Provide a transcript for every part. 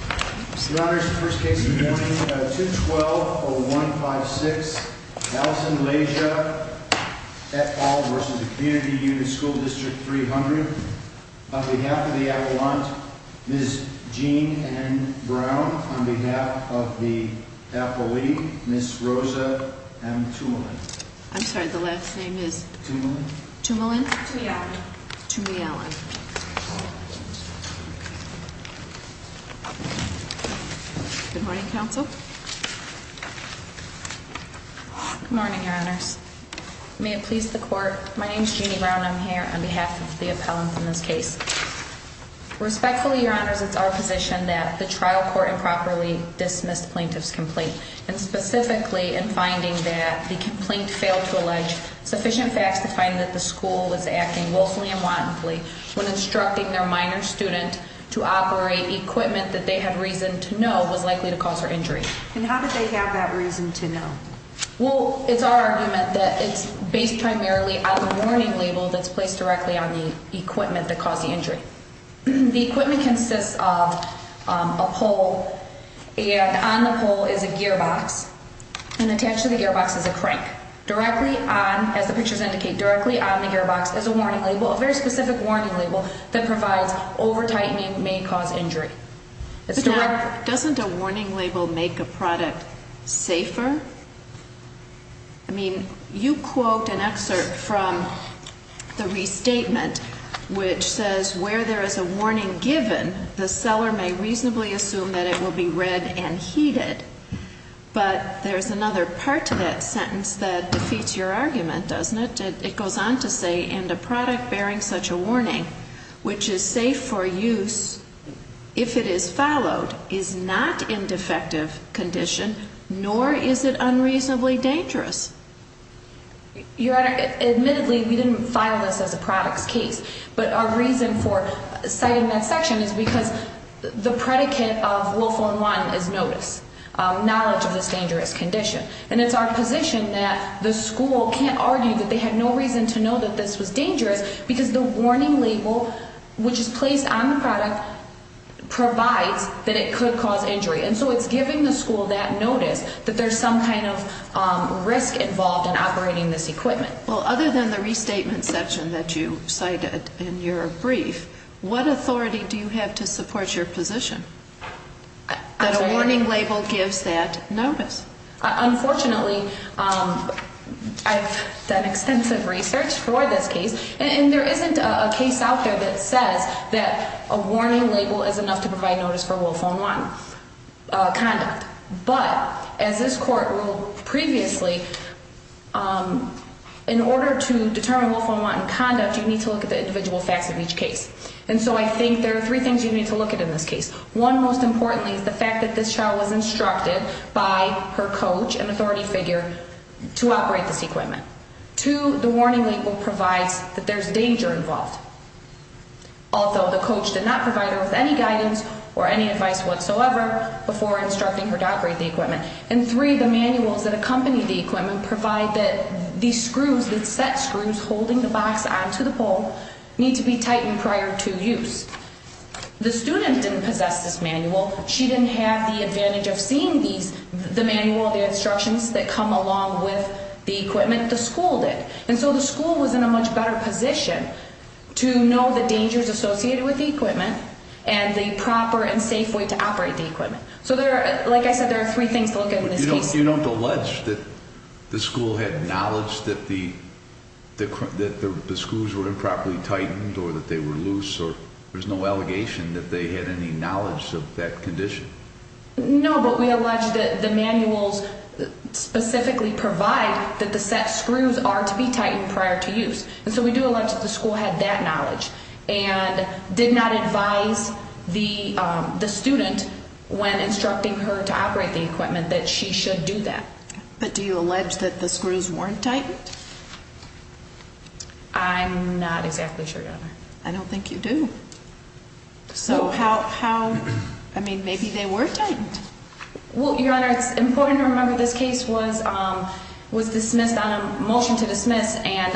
Mr. Honors, first case of the morning, 2-12-0156, Allison Leja et al. v. Community Unit School District 300 On behalf of the appellant, Ms. Jean Anne Brown On behalf of the appellee, Ms. Rosa M. Tumalin I'm sorry, the last name is? Tumalin Tumalin? Tumialan Tumialan Good morning, Counsel Good morning, Your Honors May it please the Court, my name is Jeannie Brown, I'm here on behalf of the appellant in this case Respectfully, Your Honors, it's our position that the trial court improperly dismissed plaintiff's complaint and specifically in finding that the complaint failed to allege sufficient facts to find that the school was acting willfully and wantonly when instructing their minor student to operate equipment that they had reason to know was likely to cause her injury And how did they have that reason to know? Well, it's our argument that it's based primarily on the warning label that's placed directly on the equipment that caused the injury The equipment consists of a pole, and on the pole is a gearbox, and attached to the gearbox is a crank Directly on, as the pictures indicate, directly on the gearbox is a warning label, a very specific warning label that provides over-tightening may cause injury But now, doesn't a warning label make a product safer? I mean, you quote an excerpt from the restatement, which says, where there is a warning given, the seller may reasonably assume that it will be red and heated But there's another part to that sentence that defeats your argument, doesn't it? It goes on to say, and a product bearing such a warning, which is safe for use if it is followed, is not in defective condition, nor is it unreasonably dangerous Your Honor, admittedly, we didn't file this as a product's case But our reason for citing that section is because the predicate of Willful and Wanton is notice, knowledge of this dangerous condition And it's our position that the school can't argue that they had no reason to know that this was dangerous Because the warning label, which is placed on the product, provides that it could cause injury And so it's giving the school that notice that there's some kind of risk involved in operating this equipment Well, other than the restatement section that you cited in your brief, what authority do you have to support your position? That a warning label gives that notice Unfortunately, I've done extensive research for this case And there isn't a case out there that says that a warning label is enough to provide notice for Willful and Wanton conduct But, as this court ruled previously, in order to determine Willful and Wanton conduct, you need to look at the individual facts of each case And so I think there are three things you need to look at in this case One, most importantly, is the fact that this child was instructed by her coach, an authority figure, to operate this equipment Two, the warning label provides that there's danger involved Although the coach did not provide her with any guidance or any advice whatsoever before instructing her to operate the equipment And three, the manuals that accompany the equipment provide that these screws, these set screws holding the box onto the pole, need to be tightened prior to use The student didn't possess this manual She didn't have the advantage of seeing the manual, the instructions that come along with the equipment The school did to know the dangers associated with the equipment and the proper and safe way to operate the equipment So, like I said, there are three things to look at in this case But you don't allege that the school had knowledge that the screws were improperly tightened or that they were loose There's no allegation that they had any knowledge of that condition No, but we allege that the manuals specifically provide that the set screws are to be tightened prior to use And so we do allege that the school had that knowledge And did not advise the student when instructing her to operate the equipment that she should do that But do you allege that the screws weren't tightened? I'm not exactly sure, Your Honor I don't think you do So how, I mean, maybe they were tightened Well, Your Honor, it's important to remember this case was dismissed on a motion to dismiss And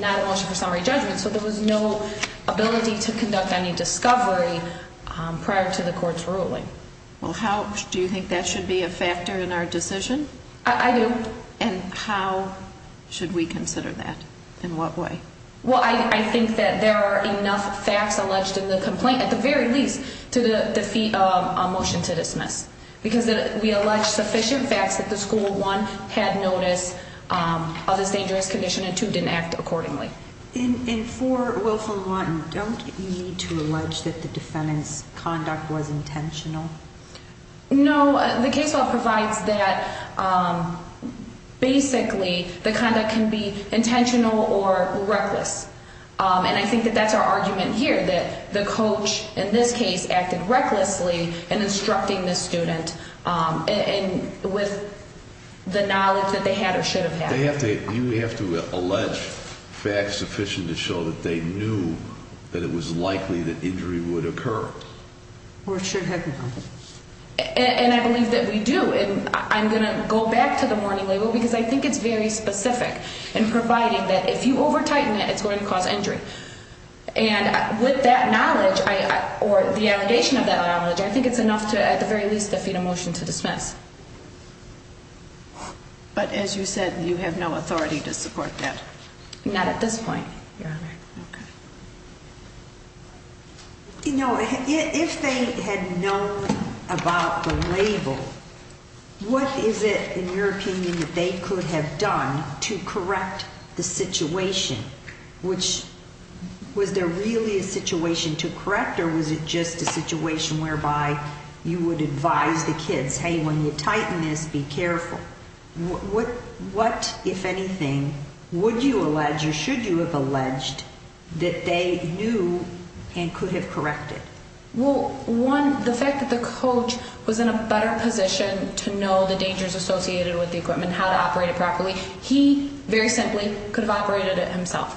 not a motion for summary judgment So there was no ability to conduct any discovery prior to the court's ruling Well, how, do you think that should be a factor in our decision? I do And how should we consider that? In what way? Well, I think that there are enough facts alleged in the complaint, at the very least, to defeat a motion to dismiss Because we allege sufficient facts that the school, one, had notice of this dangerous condition and two, didn't act accordingly And for Wilf and Lawton, don't you need to allege that the defendant's conduct was intentional? No, the case law provides that, basically, the conduct can be intentional or reckless And I think that that's our argument here, that the coach, in this case, acted recklessly in instructing the student And with the knowledge that they had or should have had You have to allege facts sufficient to show that they knew that it was likely that injury would occur Or should have occurred And I believe that we do And I'm going to go back to the warning label because I think it's very specific In providing that if you over-tighten it, it's going to cause injury And with that knowledge, or the allegation of that knowledge, I think it's enough to, at the very least, defeat a motion to dismiss But as you said, you have no authority to support that Not at this point, Your Honor Okay You know, if they had known about the label What is it, in your opinion, that they could have done to correct the situation? Which, was there really a situation to correct or was it just a situation whereby you would advise the kids Hey, when you tighten this, be careful What, if anything, would you allege or should you have alleged that they knew and could have corrected? Well, one, the fact that the coach was in a better position to know the dangers associated with the equipment How to operate it properly He, very simply, could have operated it himself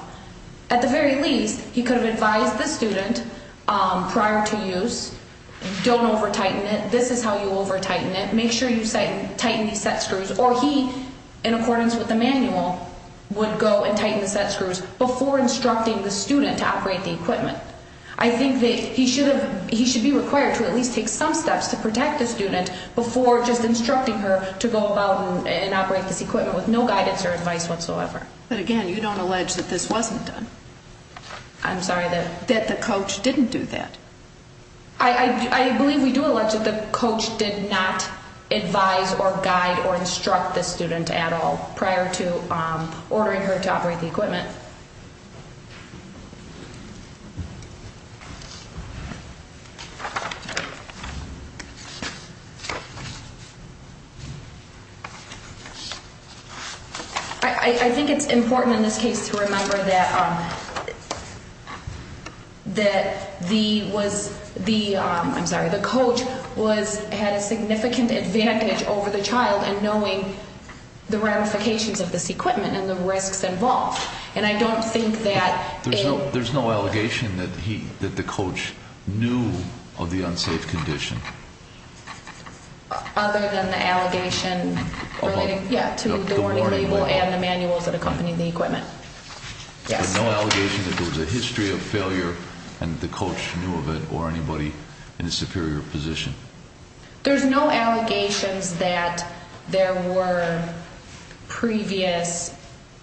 At the very least, he could have advised the student prior to use Don't over-tighten it This is how you over-tighten it Make sure you tighten these set screws Or he, in accordance with the manual, would go and tighten the set screws before instructing the student to operate the equipment I think that he should be required to at least take some steps to protect the student Before just instructing her to go about and operate this equipment with no guidance or advice whatsoever But again, you don't allege that this wasn't done I'm sorry, that That the coach didn't do that I believe we do allege that the coach did not advise or guide or instruct the student at all Prior to ordering her to operate the equipment I think it's important in this case to remember that the coach had a significant advantage over the child In knowing the ramifications of this equipment and the risks involved There's no allegation that the coach knew of the unsafe condition Other than the allegation relating to the warning label and the manuals that accompanied the equipment There's no allegation that there was a history of failure and the coach knew of it or anybody in a superior position There's no allegations that there were previous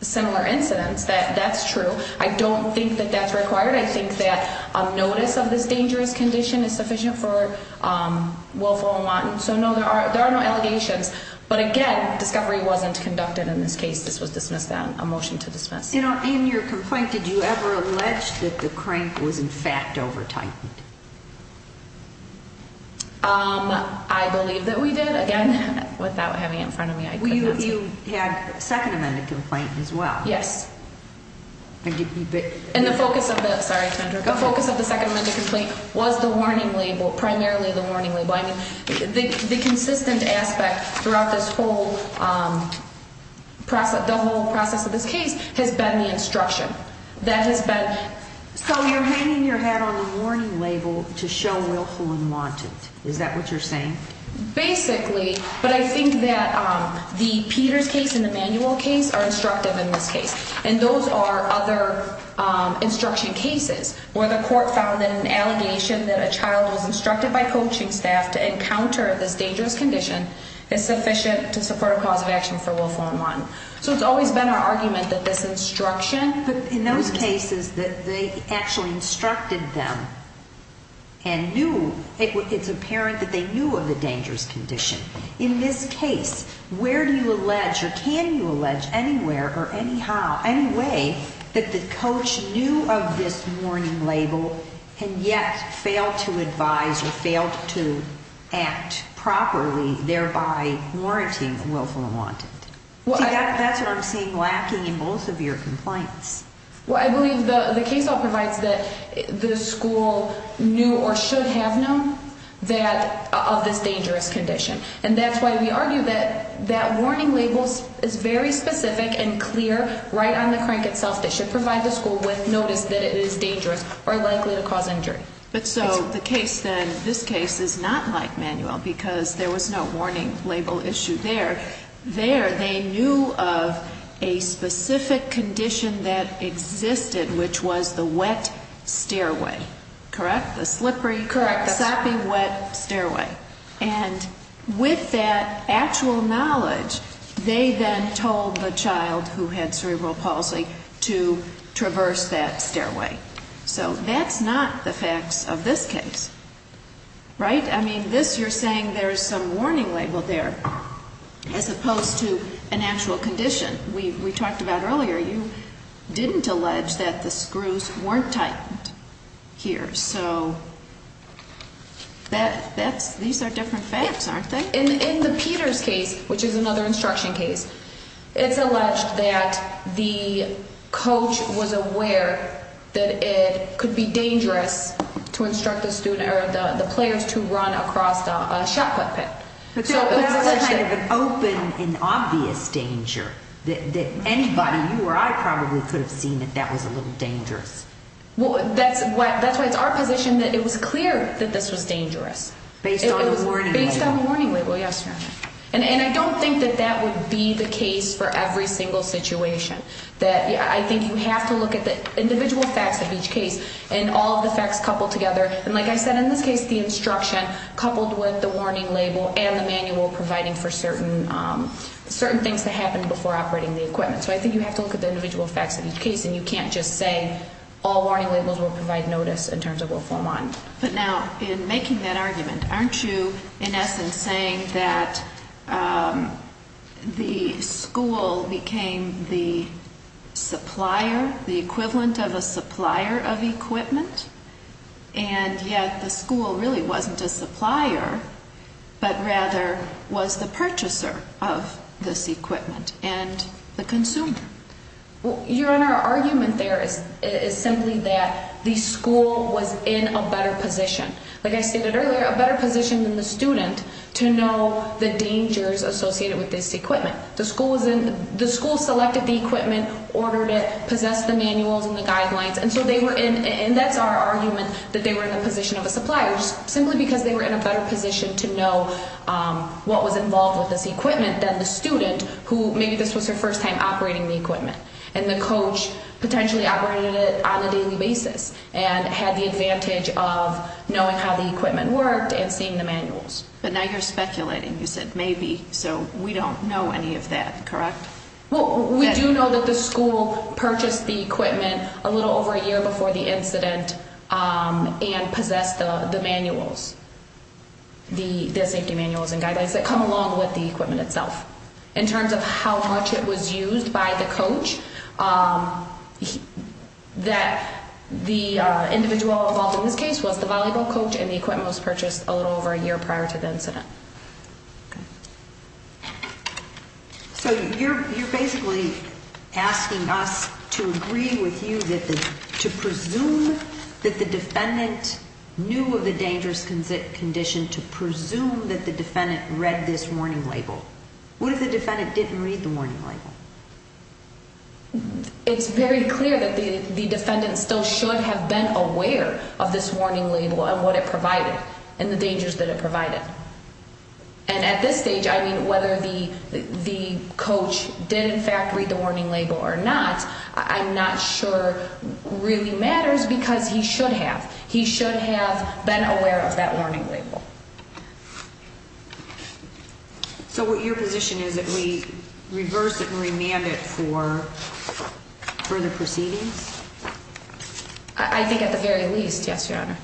similar incidents That's true I don't think that that's required I think that a notice of this dangerous condition is sufficient for willful and wanton So no, there are no allegations But again, discovery wasn't conducted in this case This was dismissed then A motion to dismiss In your complaint, did you ever allege that the crank was in fact over-tightened? I believe that we did Again, without having it in front of me, I could not say You had a second amended complaint as well Yes And the focus of the second amended complaint was the warning label Primarily the warning label The consistent aspect throughout the whole process of this case has been the instruction So you're hanging your hat on the warning label to show willful and wanton Is that what you're saying? Basically, but I think that the Peters case and the manual case are instructive in this case And those are other instruction cases Where the court found that an allegation that a child was instructed by coaching staff to encounter this dangerous condition Is sufficient to support a cause of action for willful and wanton So it's always been our argument that this instruction But in those cases that they actually instructed them And knew It's apparent that they knew of the dangerous condition In this case, where do you allege or can you allege anywhere or anyhow In any way that the coach knew of this warning label And yet failed to advise or failed to act properly Thereby warranting willful and wanton See, that's what I'm seeing lacking in both of your complaints Well, I believe the case all provides that the school knew or should have known That of this dangerous condition And that's why we argue that that warning label is very specific and clear Right on the crank itself that should provide the school with notice that it is dangerous or likely to cause injury But so the case then, this case is not like manual Because there was no warning label issue there There they knew of a specific condition that existed Which was the wet stairway, correct? The slippery, soppy, wet stairway And with that actual knowledge They then told the child who had cerebral palsy to traverse that stairway So that's not the facts of this case, right? I mean, this you're saying there's some warning label there As opposed to an actual condition We talked about earlier, you didn't allege that the screws weren't tightened here So these are different facts, aren't they? In the Peters case, which is another instruction case It's alleged that the coach was aware that it could be dangerous To instruct the players to run across the shot put pit But that was kind of an open and obvious danger That anybody, you or I, probably could have seen that that was a little dangerous That's why it's our position that it was clear that this was dangerous It was based on the warning label, yes And I don't think that that would be the case for every single situation I think you have to look at the individual facts of each case And all of the facts coupled together And like I said, in this case, the instruction coupled with the warning label And the manual providing for certain things that happened before operating the equipment So I think you have to look at the individual facts of each case And you can't just say all warning labels will provide notice in terms of Wilform One But now, in making that argument Aren't you, in essence, saying that the school became the supplier The equivalent of a supplier of equipment And yet the school really wasn't a supplier But rather was the purchaser of this equipment And the consumer Your Honor, our argument there is simply that the school was in a better position Like I stated earlier, a better position than the student To know the dangers associated with this equipment The school selected the equipment, ordered it, possessed the manuals and the guidelines And that's our argument, that they were in the position of a supplier Simply because they were in a better position to know what was involved with this equipment Than the student, who maybe this was her first time operating the equipment And the coach potentially operated it on a daily basis And had the advantage of knowing how the equipment worked and seeing the manuals But now you're speculating, you said maybe So we don't know any of that, correct? Well, we do know that the school purchased the equipment a little over a year before the incident And possessed the manuals The safety manuals and guidelines that come along with the equipment itself In terms of how much it was used by the coach That the individual involved in this case was the volleyball coach And the equipment was purchased a little over a year prior to the incident So you're basically asking us to agree with you To presume that the defendant knew of the dangerous condition To presume that the defendant read this warning label What if the defendant didn't read the warning label? It's very clear that the defendant still should have been aware of this warning label And what it provided, and the dangers that it provided And at this stage, I mean, whether the coach did in fact read the warning label or not I'm not sure really matters because he should have He should have been aware of that warning label So what your position is that we reverse it and remand it for further proceedings? I think at the very least, yes, your honor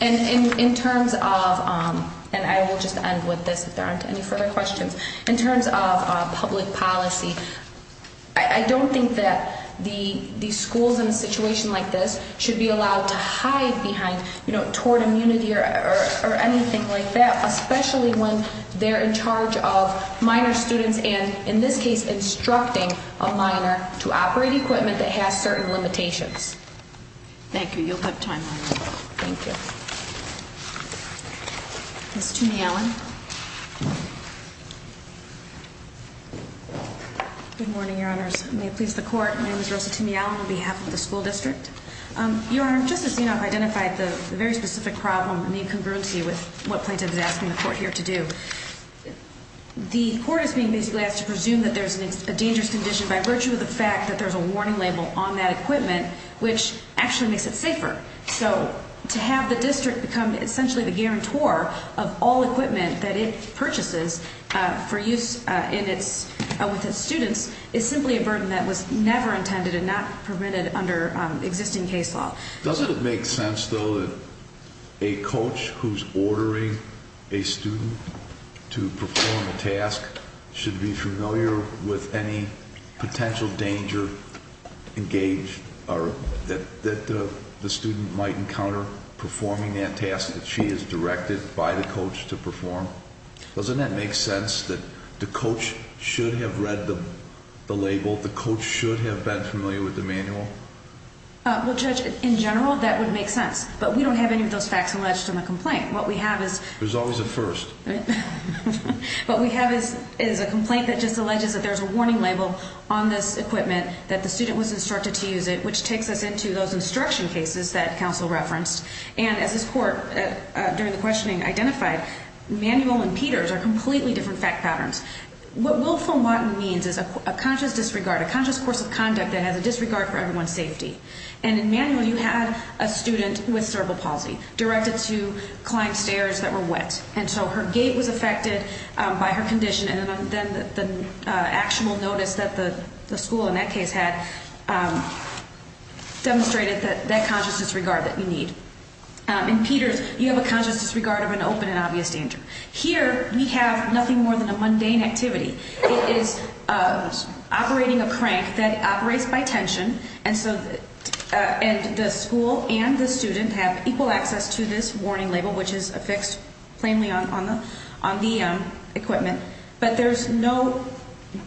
And in terms of, and I will just end with this if there aren't any further questions In terms of public policy, I don't think that the schools in a situation like this Should be allowed to hide behind, you know, toward immunity or anything like that Especially when they're in charge of minor students And in this case, instructing a minor to operate equipment that has certain limitations Thank you, you'll have time, thank you Ms. Toomey-Allen Good morning, your honors, may it please the court, my name is Rosa Toomey-Allen on behalf of the school district Your honor, just as you know, I've identified the very specific problem and the incongruency with what plaintiff is asking the court here to do The court is being basically asked to presume that there's a dangerous condition by virtue of the fact that there's a warning label on that equipment Which actually makes it safer, so to have the district become essentially the guarantor of all equipment that it purchases For use with its students is simply a burden that was never intended and not permitted under existing case law Doesn't it make sense, though, that a coach who's ordering a student to perform a task Should be familiar with any potential danger engaged, or that the student might encounter Performing that task that she is directed by the coach to perform Doesn't that make sense, that the coach should have read the label, the coach should have been familiar with the manual Well, Judge, in general, that would make sense, but we don't have any of those facts alleged in the complaint There's always a first What we have is a complaint that just alleges that there's a warning label on this equipment That the student was instructed to use it, which takes us into those instruction cases that counsel referenced And as this court, during the questioning, identified, Manuel and Peter's are completely different fact patterns What willful motting means is a conscious disregard, a conscious course of conduct that has a disregard for everyone's safety And in Manuel, you had a student with cerebral palsy, directed to climb stairs that were wet And so her gait was affected by her condition, and then the actual notice that the school in that case had Demonstrated that that conscious disregard that you need In Peter's, you have a conscious disregard of an open and obvious danger Here, we have nothing more than a mundane activity It is operating a crank that operates by tension And so the school and the student have equal access to this warning label, which is affixed plainly on the equipment But there's no...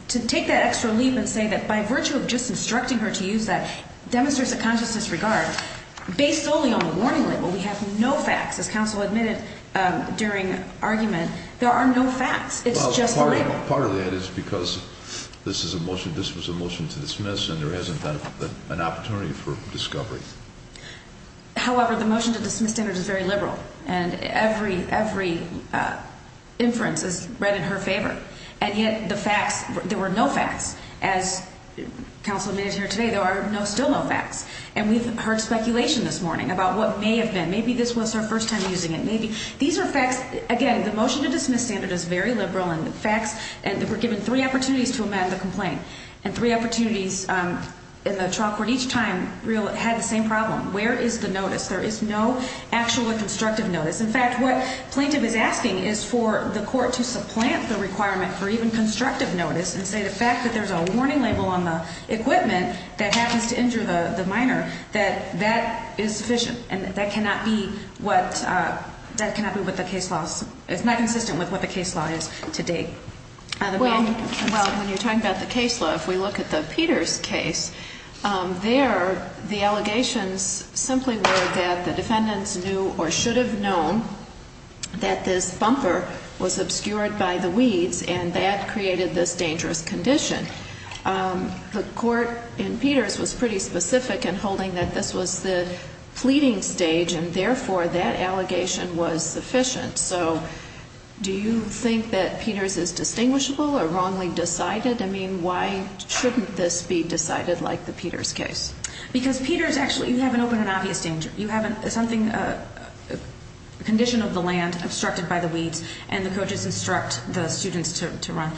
to take that extra leap and say that by virtue of just instructing her to use that Demonstrates a conscious disregard, based only on the warning label We have no facts, as counsel admitted during argument, there are no facts Part of that is because this was a motion to dismiss and there hasn't been an opportunity for discovery However, the motion to dismiss standards is very liberal And every inference is read in her favor And yet the facts, there were no facts, as counsel admitted here today, there are still no facts And we've heard speculation this morning about what may have been, maybe this was her first time using it These are facts, again, the motion to dismiss standard is very liberal And the facts, and we're given three opportunities to amend the complaint And three opportunities in the trial court each time had the same problem Where is the notice? There is no actual constructive notice In fact, what plaintiff is asking is for the court to supplant the requirement for even constructive notice And say the fact that there's a warning label on the equipment that happens to injure the minor That that is sufficient and that cannot be with the case laws It's not consistent with what the case law is today Well, when you're talking about the case law, if we look at the Peters case There, the allegations simply were that the defendants knew or should have known That this bumper was obscured by the weeds and that created this dangerous condition The court in Peters was pretty specific in holding that this was the pleading stage And therefore, that allegation was sufficient So, do you think that Peters is distinguishable or wrongly decided? I mean, why shouldn't this be decided like the Peters case? Because Peters actually, you have an open and obvious danger You have something, a condition of the land obstructed by the weeds And the coaches instruct the students to run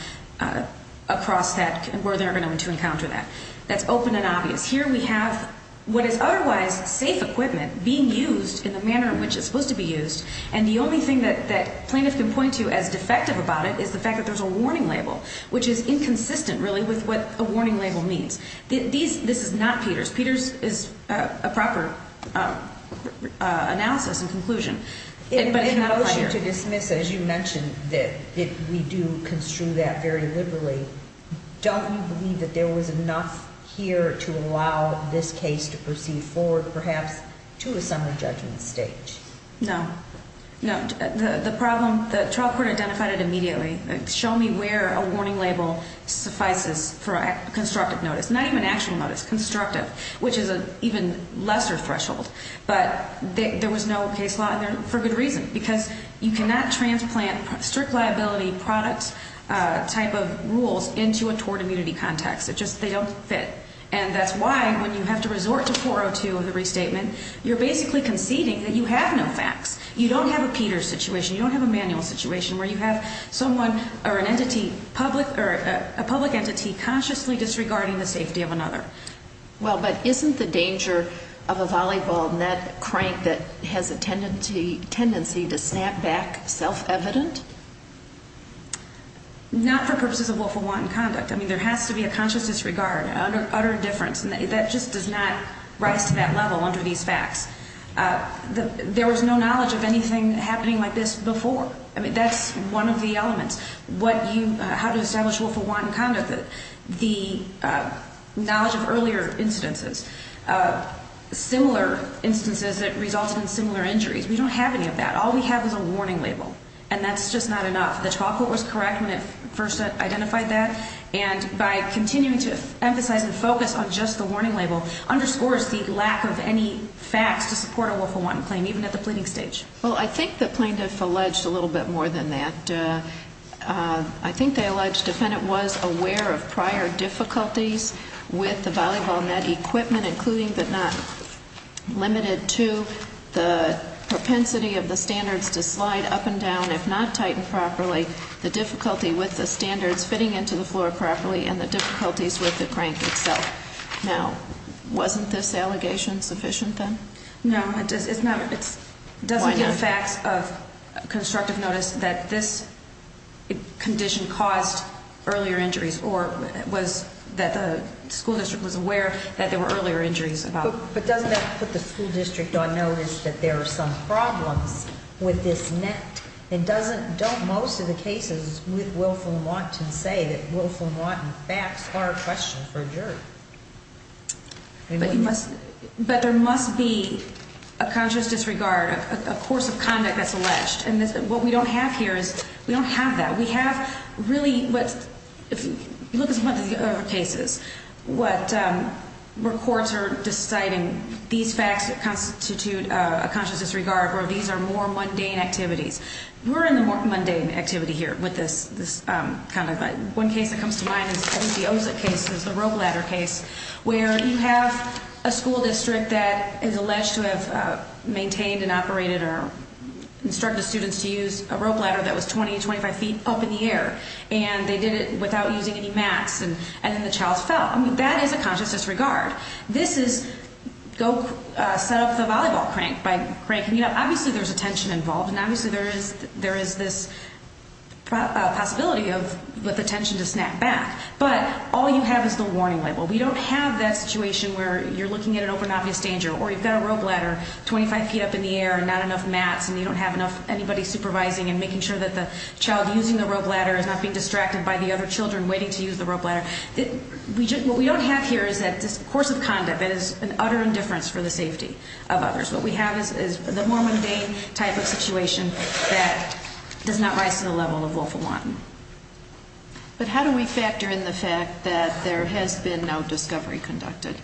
across that where they're going to encounter that That's open and obvious Here we have what is otherwise safe equipment being used in the manner in which it's supposed to be used And the only thing that plaintiff can point to as defective about it is the fact that there's a warning label Which is inconsistent really with what a warning label means This is not Peters Peters is a proper analysis and conclusion In a motion to dismiss, as you mentioned, that we do construe that very liberally Don't you believe that there was enough here to allow this case to proceed forward, perhaps to a summary judgment stage? No No, the problem, the trial court identified it immediately Show me where a warning label suffices for constructive notice Not even actual notice, constructive Which is an even lesser threshold But there was no case law in there for good reason Because you cannot transplant strict liability products type of rules into a tort immunity context It just, they don't fit And that's why when you have to resort to 402 in the restatement, you're basically conceding that you have no facts You don't have a Peters situation You don't have a manual situation where you have someone or an entity, a public entity Consciously disregarding the safety of another Well, but isn't the danger of a volleyball net crank that has a tendency to snap back self-evident? Not for purposes of willful wanton conduct I mean, there has to be a conscious disregard, utter indifference And that just does not rise to that level under these facts There was no knowledge of anything happening like this before I mean, that's one of the elements What you, how to establish willful wanton conduct The knowledge of earlier incidences Similar instances that resulted in similar injuries We don't have any of that All we have is a warning label And that's just not enough The trial court was correct when it first identified that And by continuing to emphasize and focus on just the warning label Underscores the lack of any facts to support a willful wanton claim, even at the pleading stage Well, I think the plaintiff alleged a little bit more than that And I think they alleged the defendant was aware of prior difficulties with the volleyball net equipment Including but not limited to the propensity of the standards to slide up and down If not tightened properly The difficulty with the standards fitting into the floor properly And the difficulties with the crank itself Now, wasn't this allegation sufficient then? No, it doesn't give facts of constructive notice That this condition caused earlier injuries Or was that the school district was aware that there were earlier injuries But doesn't that put the school district on notice that there are some problems with this net? And doesn't, don't most of the cases with willful wanton say that willful wanton facts are a question for a jury? But there must be a conscious disregard, a course of conduct that's alleged And what we don't have here is, we don't have that We have really, if you look at some of the other cases Where courts are deciding these facts constitute a conscious disregard Where these are more mundane activities We're in the more mundane activity here with this kind of One case that comes to mind is the Ozick case, the rope ladder case Where you have a school district that is alleged to have maintained and operated Or instructed students to use a rope ladder that was 20, 25 feet up in the air And they did it without using any mats And then the child fell That is a conscious disregard This is, go set up the volleyball crank by cranking it up Obviously there's attention involved And obviously there is this possibility of, with attention to snap back But all you have is the warning label We don't have that situation where you're looking at an open, obvious danger Or you've got a rope ladder, 25 feet up in the air And not enough mats And you don't have enough, anybody supervising And making sure that the child using the rope ladder Is not being distracted by the other children waiting to use the rope ladder What we don't have here is that this course of conduct That is an utter indifference for the safety of others What we have is the more mundane type of situation That does not rise to the level of willful wanton But how do we factor in the fact that there has been no discovery conducted?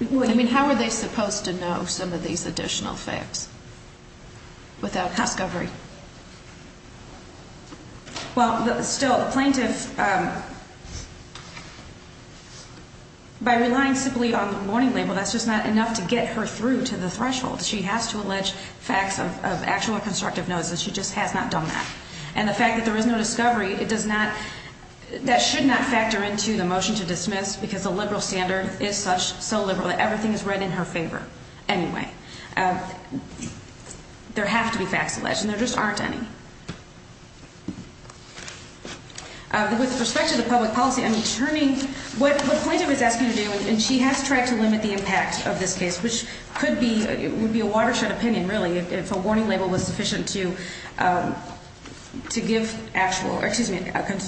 I mean, how are they supposed to know some of these additional facts Without discovery? Well, still, the plaintiff By relying simply on the warning label That's just not enough to get her through to the threshold She has to allege facts of actual constructive notice And she just has not done that And the fact that there is no discovery That should not factor into the motion to dismiss Because the liberal standard is so liberal That everything is read in her favor Anyway There have to be facts alleged And there just aren't any With respect to the public policy What the plaintiff is asking to do And she has tried to limit the impact of this case Which would be a watershed opinion, really If a warning label was sufficient to give actual Excuse me,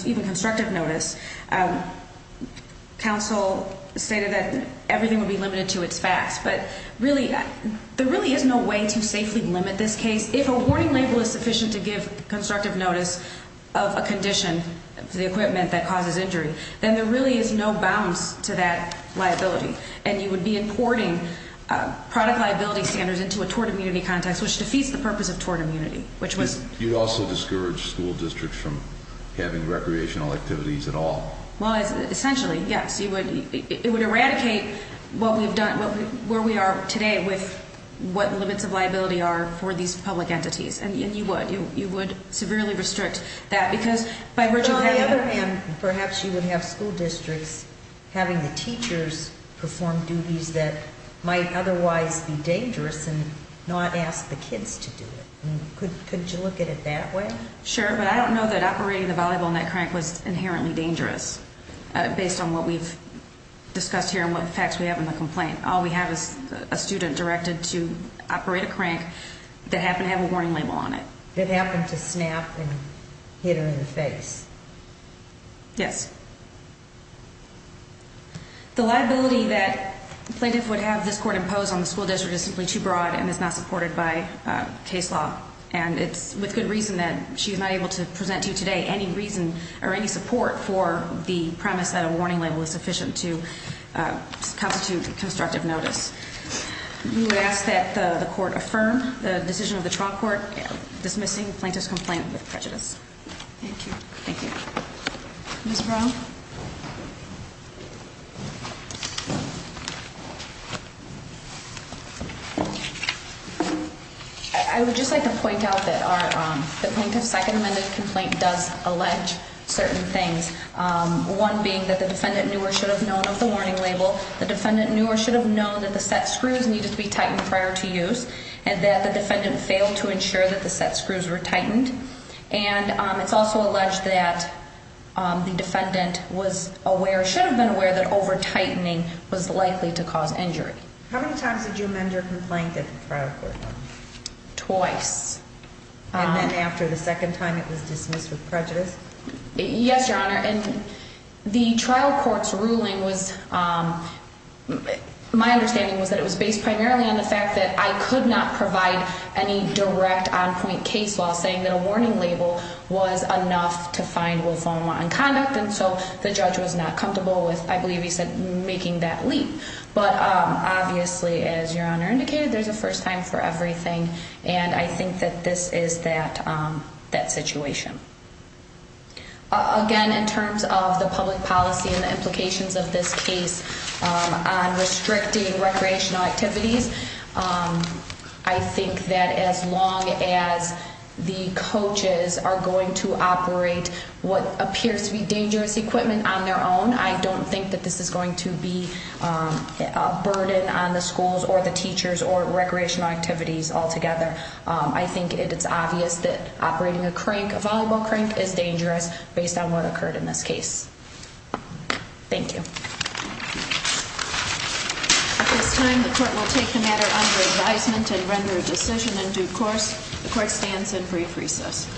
even constructive notice Counsel stated that everything would be limited to its facts But really, there really is no way to safely limit this case If a warning label is sufficient to give constructive notice Of a condition for the equipment that causes injury Then there really is no bounds to that liability And you would be importing product liability standards Into a tort immunity context Which defeats the purpose of tort immunity You'd also discourage school districts From having recreational activities at all Well, essentially, yes It would eradicate where we are today With what limits of liability are for these public entities And you would You would severely restrict that Well, on the other hand Perhaps you would have school districts Having the teachers perform duties That might otherwise be dangerous And not ask the kids to do it Could you look at it that way? Sure, but I don't know that operating the volleyball net crank Was inherently dangerous Based on what we've discussed here And what facts we have in the complaint All we have is a student directed to operate a crank That happened to have a warning label on it That happened to snap and hit her in the face Yes The liability that plaintiff would have this court impose On the school district is simply too broad And is not supported by case law And it's with good reason that she's not able to present to you today Any reason or any support for the premise That a warning label is sufficient To constitute constructive notice We would ask that the court affirm The decision of the trial court Dismissing plaintiff's complaint with prejudice Thank you Thank you Ms. Brown I would just like to point out that The plaintiff's second amended complaint Does allege certain things One being that the defendant knew Or should have known of the warning label The defendant knew or should have known That the set screws needed to be tightened prior to use And that the defendant failed to ensure That the set screws were tightened And it's also alleged that The defendant was aware Should have been aware that over tightening Was likely to cause injury How many times did you amend your complaint At the trial court? Twice And then after the second time It was dismissed with prejudice? Yes, your honor And the trial court's ruling was My understanding was that it was based primarily On the fact that I could not provide Any direct on point case law Saying that a warning label was enough To find lymphoma in conduct And so the judge was not comfortable with I believe he said making that leap But obviously as your honor indicated There's a first time for everything And I think that this is that situation Again in terms of the public policy And the implications of this case On restricting recreational activities I think that as long as the coaches Are going to operate What appears to be dangerous equipment On their own I don't think that this is going to be A burden on the schools Or the teachers Or recreational activities altogether I think it's obvious that Operating a crank A volleyball crank Is dangerous Based on what occurred in this case Thank you At this time The court will take the matter under advisement And render a decision in due course The court stands in brief recess